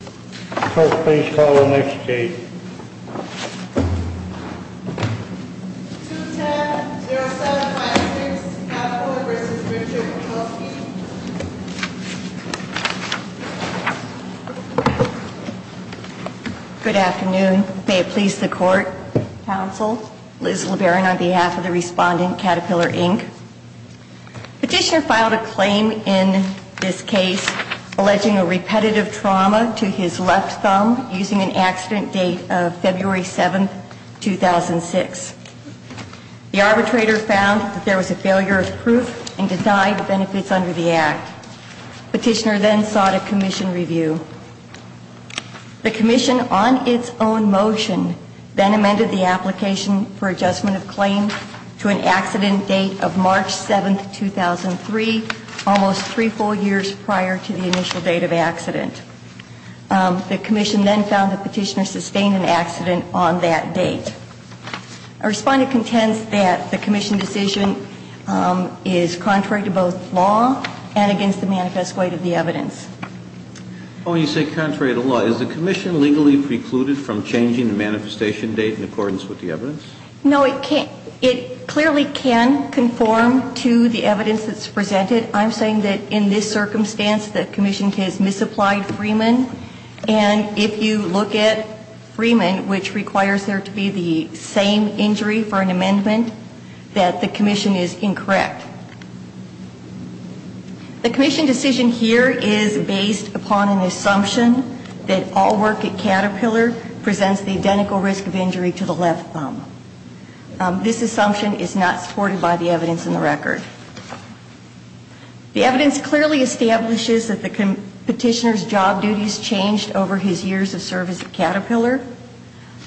Court, please call the next case. 210-0756, Caterpillar v. Richard Kowalski Good afternoon. May it please the Court, Counsel, Liz LeBaron on behalf of the respondent, Caterpillar, Inc. Petitioner filed a claim in this case alleging a repetitive trauma to his left thumb using an accident date of February 7, 2006. The arbitrator found that there was a failure of proof and denied the benefits under the act. Petitioner then sought a commission review. The commission, on its own motion, then amended the application for adjustment of claim to an accident date of March 7, 2003, almost three full years prior to the initial date of accident. The commission then found that Petitioner sustained an accident on that date. Our respondent contends that the commission decision is contrary to both law and against the manifest weight of the evidence. Oh, you say contrary to law. Is the commission legally precluded from changing the manifestation date in accordance with the evidence? No, it can't. It clearly can conform to the evidence that's presented. I'm saying that in this circumstance the commission has misapplied Freeman. And if you look at Freeman, which requires there to be the same injury for an amendment, that the commission is incorrect. The commission decision here is based upon an assumption that all work at Caterpillar presents the identical risk of injury to the left thumb. This assumption is not supported by the evidence in the record. The evidence clearly establishes that the petitioner's job duties changed over his years of service at Caterpillar,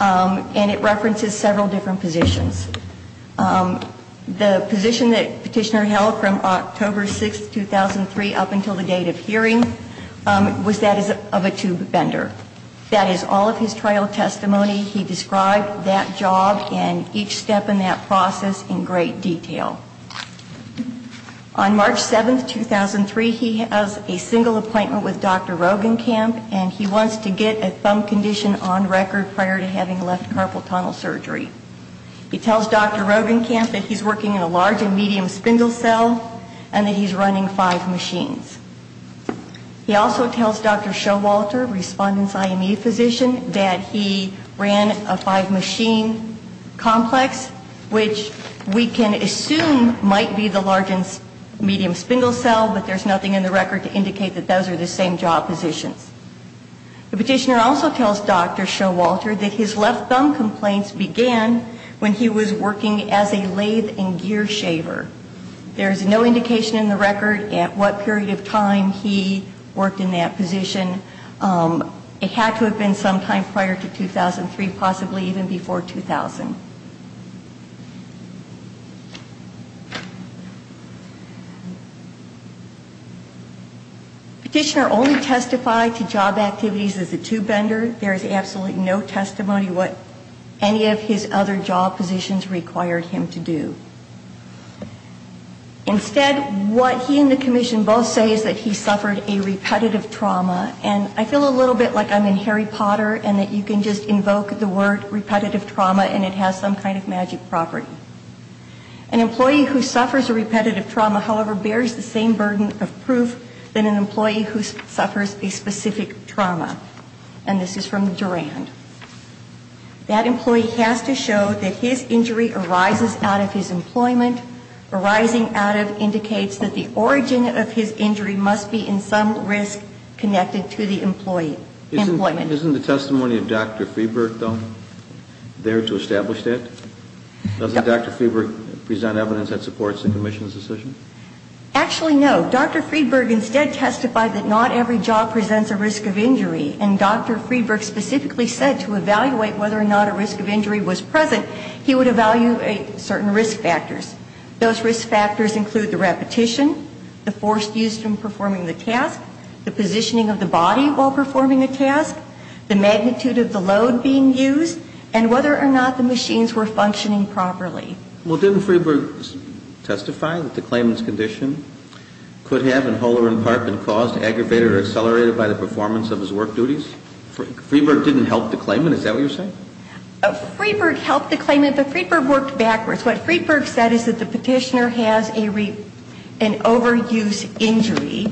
and it references several different positions. The position that Petitioner held from October 6, 2003 up until the date of hearing was that of a tube bender. That is all of his trial testimony. He described that job and each step in that process in great detail. On March 7, 2003, he has a single appointment with Dr. Rogenkamp, and he wants to get a thumb condition on record prior to having left carpal tunnel surgery. He tells Dr. Rogenkamp that he's working in a large and medium spindle cell, and that he's running five machines. He also tells Dr. Showalter, respondent's IME physician, that he ran a five machine complex, which we can assume might be the large and medium spindle cell, but there's nothing in the record to indicate that those are the same job positions. The petitioner also tells Dr. Showalter that his left thumb complaints began when he was working as a lathe and gear shaver. There's no indication in the record at what period of time he worked in that position. It had to have been sometime prior to 2003, possibly even before 2000. Petitioner only testified to job activities as a tube bender. There's absolutely no testimony what any of his other job positions required him to do. Instead, what he and the commission both say is that he suffered a repetitive trauma, and I feel a little bit like I'm in Harry Potter, and that you can just invoke the word repetitive trauma, and it has to be a repetitive trauma. It has to have some kind of magic property. An employee who suffers a repetitive trauma, however, bears the same burden of proof than an employee who suffers a specific trauma. And this is from Durand. That employee has to show that his injury arises out of his employment. Arising out of indicates that the origin of his injury must be in some risk connected to the employment. Isn't the testimony of Dr. Friedberg, though, there to establish that? Doesn't Dr. Friedberg present evidence that supports the commission's decision? Actually, no. Dr. Friedberg instead testified that not every job presents a risk of injury, and Dr. Friedberg specifically said to evaluate whether or not a risk of injury was present, he would evaluate certain risk factors. Those risk factors include the repetition, the force used in performing the task, the positioning of the body while performing the task, the magnitude of the load being used, and whether or not the machines were functioning properly. Well, didn't Friedberg testify that the claimant's condition could have, in whole or in part, been caused, aggravated, or accelerated by the performance of his work duties? Friedberg didn't help the claimant. Is that what you're saying? Friedberg helped the claimant, but Friedberg worked backwards. What Friedberg said is that the petitioner has an overuse injury,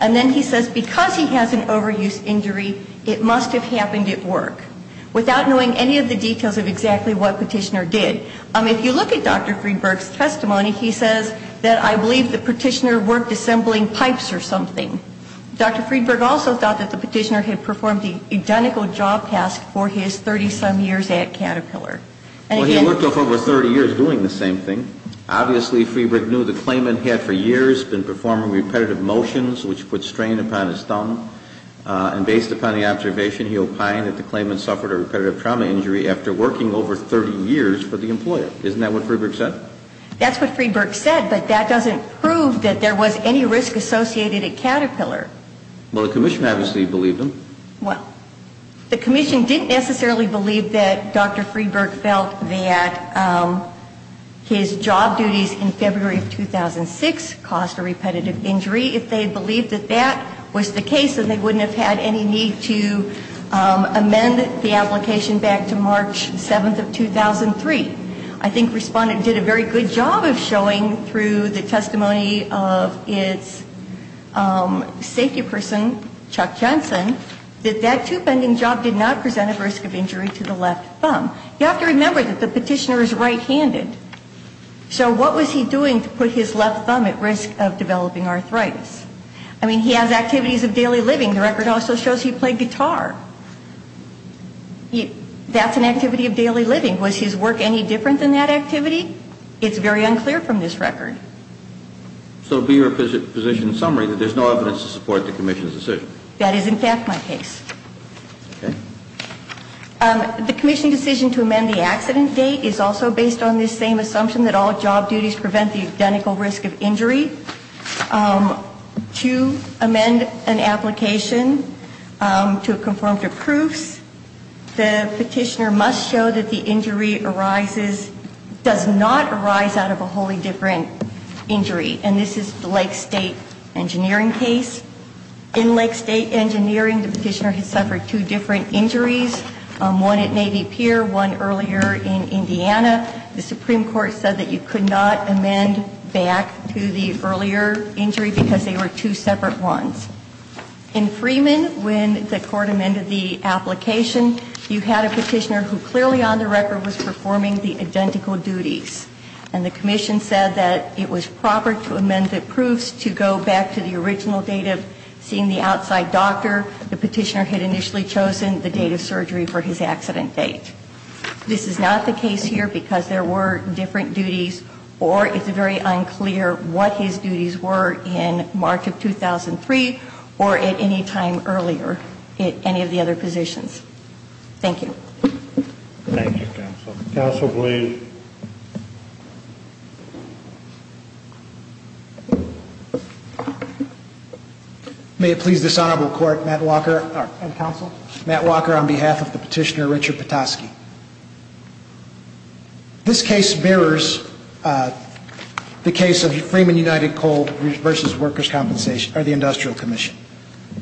and then he says because he has an overuse injury, it must have happened at work, without knowing any of the details of exactly what the petitioner did. If you look at Dr. Friedberg's testimony, he says that I believe the petitioner worked assembling pipes or something. Dr. Friedberg also thought that the petitioner had performed the identical job task for his 30-some years at Caterpillar. Well, he worked over 30 years doing the same thing. Obviously, Friedberg knew the claimant had, for years, been performing repetitive motions, which put strain upon his thumb, and based upon the observation, he opined that the claimant suffered a repetitive trauma injury after working over 30 years for the employer. Isn't that what Friedberg said? That's what Friedberg said, but that doesn't prove that there was any risk associated at Caterpillar. Well, the Commission obviously believed him. Well, the Commission didn't necessarily believe that Dr. Friedberg felt that his job duties in February of 2006 caused a repetitive injury. If they believed that that was the case, then they wouldn't have had any need to amend the application back to March 7th of 2003. I think Respondent did a very good job of showing, through the testimony of its safety person, Chuck Johnson, that that two-bending job did not present a risk of injury to the left thumb. You have to remember that the petitioner is right-handed, so what was he doing to put his left thumb at risk of developing arthritis? I mean, he has activities of daily living. The record also shows he played guitar. That's an activity of daily living. Was his work any different than that activity? It's very unclear from this record. So be your position summary that there's no evidence to support the Commission's decision? That is, in fact, my case. The Commission decision to amend the accident date is also based on this same assumption that all job duties prevent the identical risk of injury. To amend an application to conform to proofs, the petitioner must show that the injury does not arise out of a wholly different injury. And this is the Lake State engineering case. In Lake State engineering, the petitioner has suffered two different injuries, one at Navy Pier, one earlier in Indiana. The Supreme Court said that you could not amend back to the earlier injury because they were two separate ones. In Freeman, when the court amended the application, you had a petitioner who clearly on the record was performing the identical duties. And the Commission said that it was proper to amend the proofs to go back to the original date of seeing the outside doctor. The petitioner had initially chosen the date of surgery for his accident date. This is not the case here because there were different duties, or it's very unclear what his duties were in March of 2003 or at any time earlier at any of the other positions. Thank you. Thank you, Counsel. Counsel Blaine. May it please this Honorable Court, Matt Walker. And Counsel. Matt Walker on behalf of the petitioner Richard Petoskey. This case mirrors the case of Freeman United Coal versus Workers' Compensation, or the Industrial Commission.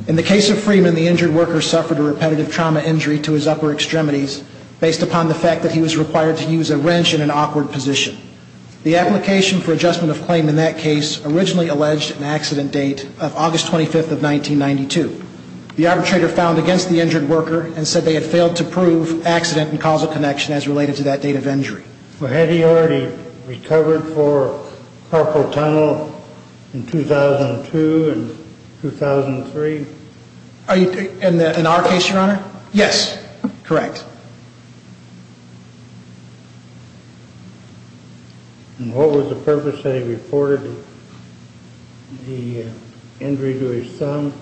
In the case of Freeman, the injured worker suffered a repetitive trauma injury to his upper extremities based upon the fact that he was required to use a wrench in an awkward position. The application for adjustment of claim in that case originally alleged an accident date of August 25th of 1992. The arbitrator found against the injured worker and said they had failed to prove accident and causal connection as related to that date of injury. Had he already recovered for carpal tunnel in 2002 and 2003? In our case, Your Honor? Yes. Correct. And what was the purpose that he reported the injury to his thumb?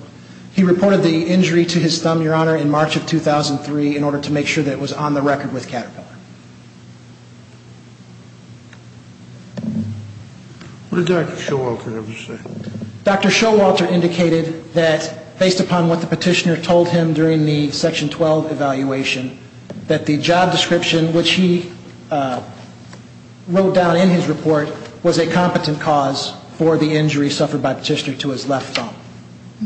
He reported the injury to his thumb, Your Honor, in March of 2003 in order to make sure that it was on the record with Caterpillar. What did Dr. Showalter have to say? Dr. Showalter indicated that based upon what the petitioner told him during the Section 12 evaluation, that the job description which he wrote down in his report was a competent cause for the injury suffered by the petitioner to his left thumb.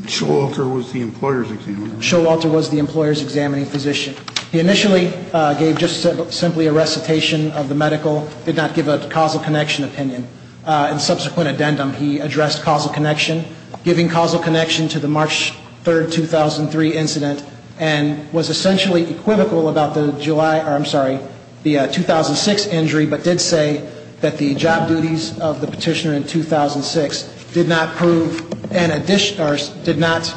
Showalter was the employer's examining physician? Showalter was the employer's examining physician. He initially gave just simply a recitation of the medical, did not give a causal connection opinion. In subsequent addendum, he addressed causal connection, giving causal connection to the March 3rd, 2003 incident and was essentially equivocal about the July, I'm sorry, the 2006 injury, but did say that the job duties of the petitioner in 2006 did not prove, did not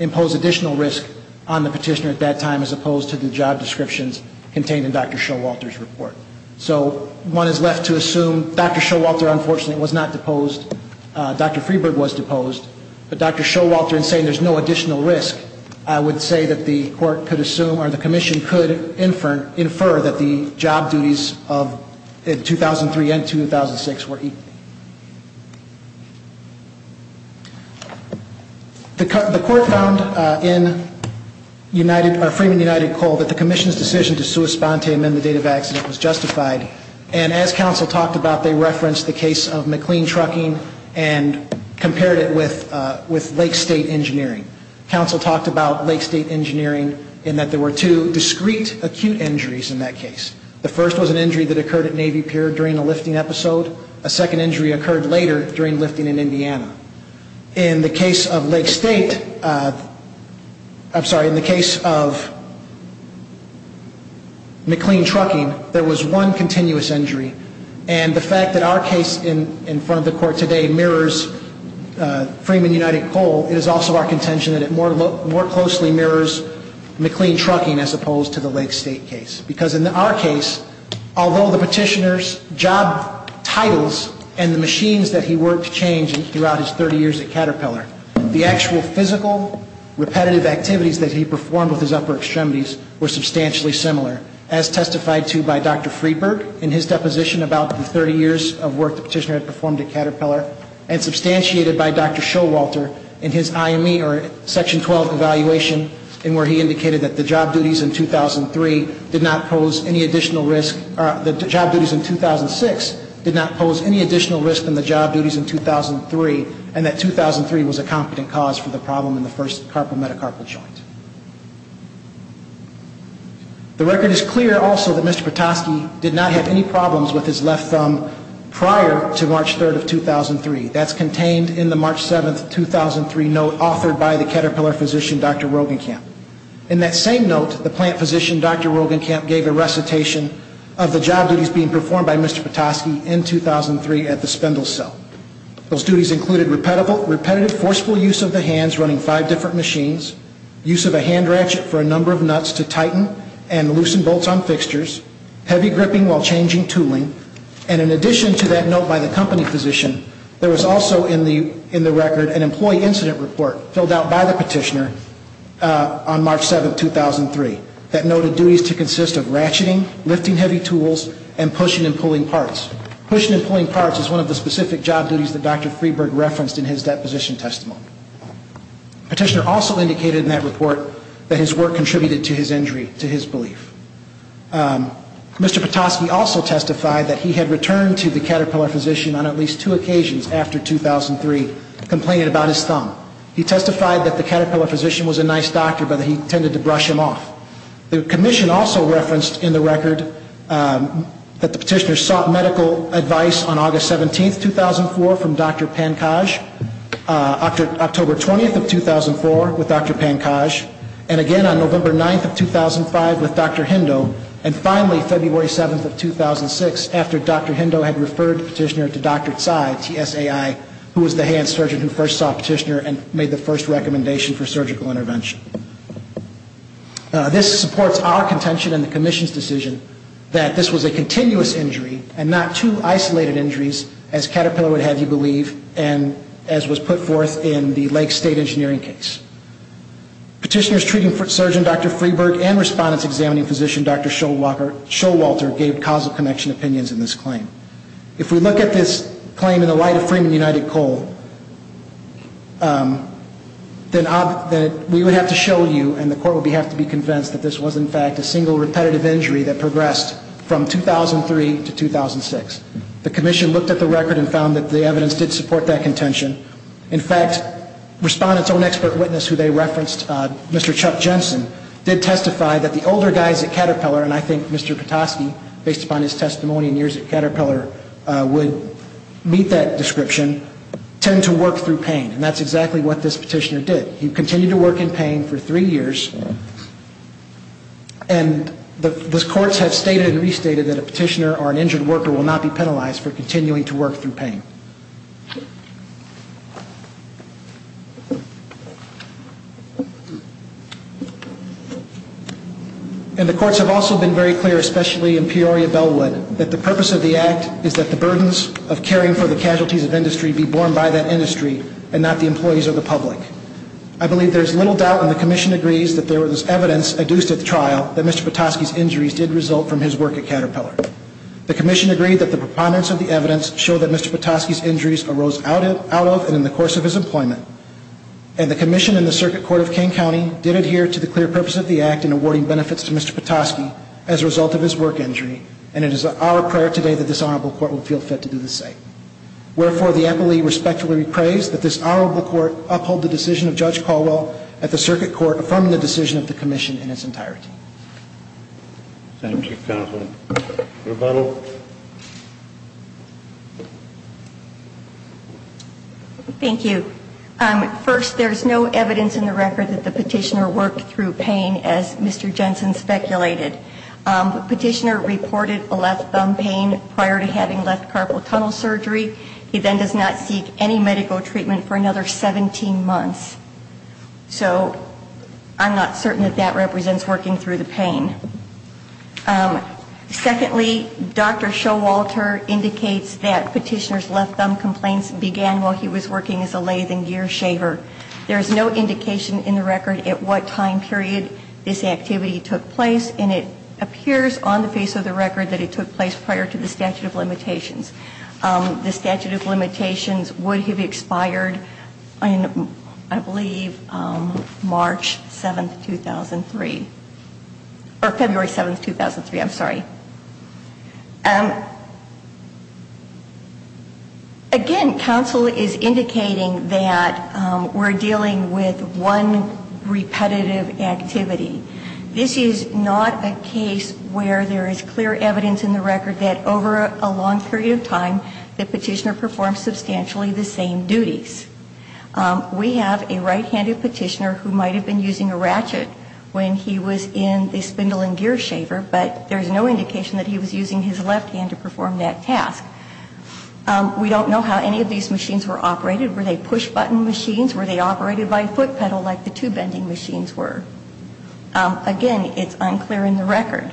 impose additional risk on the petitioner at that time as opposed to the job descriptions contained in Dr. Showalter's report. So one is left to assume Dr. Showalter, unfortunately, was not deposed. Dr. Freeburg was deposed. But Dr. Showalter in saying there's no additional risk, I would say that the court could assume or the commission could infer that the job duties of 2003 and 2006 were equal. The court found in Freeman United Coal that the commission's decision to sua sponte amend the date of accident was justified. And as counsel talked about, they referenced the case of McLean Trucking and compared it with Lake State Engineering. Counsel talked about Lake State Engineering in that there were two discrete acute injuries in that case. The first was an injury that occurred at Navy Pier during a lifting episode. A second injury occurred later during lifting in Indiana. In the case of Lake State, I'm sorry, in the case of McLean Trucking, there was one continuous injury. And the fact that our case in front of the court today mirrors Freeman United Coal, it is also our contention that it more closely mirrors McLean Trucking as opposed to the Lake State case. Because in our case, although the petitioner's job titles and the machines that he worked changed throughout his 30 years at Caterpillar, the actual physical repetitive activities that he performed with his upper extremities were substantially similar, as testified to by Dr. Friedberg in his deposition about the 30 years of work the petitioner had performed at Caterpillar and substantiated by Dr. Showalter in his IME or Section 12 evaluation in where he indicated that the job duties in 2003 did not pose any additional risk, or the job duties in 2006 did not pose any additional risk than the job duties in 2003 and that 2003 was a competent cause for the problem in the first carpal metacarpal joint. The record is clear also that Mr. Petoskey did not have any problems with his left thumb prior to March 3rd of 2003. That's contained in the March 7th, 2003 note authored by the Caterpillar physician, Dr. Rogenkamp. In that same note, the plant physician, Dr. Rogenkamp, gave a recitation of the job duties being performed by Mr. Petoskey in 2003 at the spindle cell. Those duties included repetitive forceful use of the hands running five different machines, use of a hand ratchet for a number of nuts to tighten and loosen bolts on fixtures, heavy gripping while changing tooling, and in addition to that note by the company physician, there was also in the record an employee incident report filled out by the petitioner on March 7th, 2003 that noted duties to consist of ratcheting, lifting heavy tools, and pushing and pulling parts. Pushing and pulling parts is one of the specific job duties that Dr. Freeburg referenced in his deposition testimony. The petitioner also indicated in that report that his work contributed to his injury, to his belief. Mr. Petoskey also testified that he had returned to the Caterpillar physician on at least two occasions after 2003 complaining about his thumb. He testified that the Caterpillar physician was a nice doctor but that he tended to brush him off. The commission also referenced in the record that the petitioner sought medical advice on August 17th, 2004 from Dr. Pankaj, October 20th of 2004 with Dr. Pankaj, and again on November 9th of 2005 with Dr. Hendo, and finally February 7th of 2006 after Dr. Hendo had referred the petitioner to Dr. Tsai, T-S-A-I, who was the hand surgeon who first saw Petitioner and made the first recommendation for surgical intervention. This supports our contention in the commission's decision that this was a continuous injury and not two isolated injuries as Caterpillar would have you believe, and as was put forth in the Lake State engineering case. Petitioners treating surgeon Dr. Freeberg and respondents examining physician Dr. Showalter gave causal connection opinions in this claim. If we look at this claim in the light of Freeman United Coal, then we would have to show you and the court would have to be convinced that this was in fact a single repetitive injury that progressed from 2003 to 2006. The commission looked at the record and found that the evidence did support that contention. In fact, respondents' own expert witness who they referenced, Mr. Chuck Jensen, did testify that the older guys at Caterpillar, and I think Mr. Petoskey, based upon his testimony and years at Caterpillar, would meet that description, tend to work through pain, and that's exactly what this petitioner did. He continued to work in pain for three years, and the courts have stated and restated that a petitioner or an injured worker will not be penalized for continuing to work through pain. And the courts have also been very clear, especially in Peoria-Bellwood, that the purpose of the act is that the burdens of caring for the casualties of industry be borne by that industry and not the employees or the public. I believe there is little doubt when the commission agrees that there was evidence that Mr. Petoskey's injuries did result from his work at Caterpillar. The commission agreed that the preponderance of the evidence showed that Mr. Petoskey's injuries arose out of and in the course of his employment, and the commission and the circuit court of King County did adhere to the clear purpose of the act in awarding benefits to Mr. Petoskey as a result of his work injury, and it is our prayer today that this honorable court will feel fit to do the same. Wherefore, the appellee respectfully prays that this honorable court uphold the decision of Judge Caldwell at the circuit court, affirming the decision of the commission in its entirety. Thank you, counsel. Rebuttal. Thank you. First, there is no evidence in the record that the petitioner worked through pain, as Mr. Jensen speculated. The petitioner reported a left thumb pain prior to having left carpal tunnel surgery. He then does not seek any medical treatment for another 17 months. So I'm not certain that that represents working through the pain. Secondly, Dr. Showalter indicates that petitioner's left thumb complaints began while he was working as a lathe and gear shaver. There is no indication in the record at what time period this activity took place, and it appears on the face of the record that it took place prior to the statute of limitations. The statute of limitations would have expired, I believe, March 7, 2003. Or February 7, 2003, I'm sorry. Again, counsel is indicating that we're dealing with one repetitive activity. This is not a case where there is clear evidence in the record that over a long period of time, the petitioner performed substantially the same duties. We have a right-handed petitioner who might have been using a ratchet when he was in the spindle and gear shaver, but there's no indication that he was using his left hand to perform that task. We don't know how any of these machines were operated. Were they push-button machines? Were they operated by foot pedal like the two bending machines were? Again, it's unclear in the record.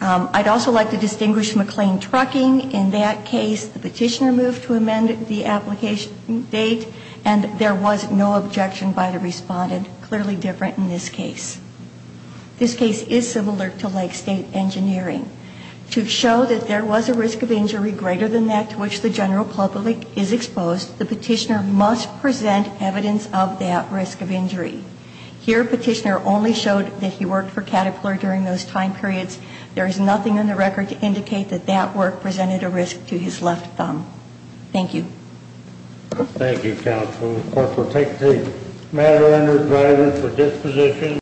I'd also like to distinguish McLean Trucking. In that case, the petitioner moved to amend the application date, and there was no objection by the respondent, clearly different in this case. This case is similar to Lake State Engineering. To show that there was a risk of injury greater than that to which the general public is exposed, the petitioner must present evidence of that risk of injury. Here, petitioner only showed that he worked for Caterpillar during those time periods. There is nothing in the record to indicate that that work presented a risk to his left thumb. Thank you. Thank you, counsel. Of course, we'll take the matter under driver's disposition.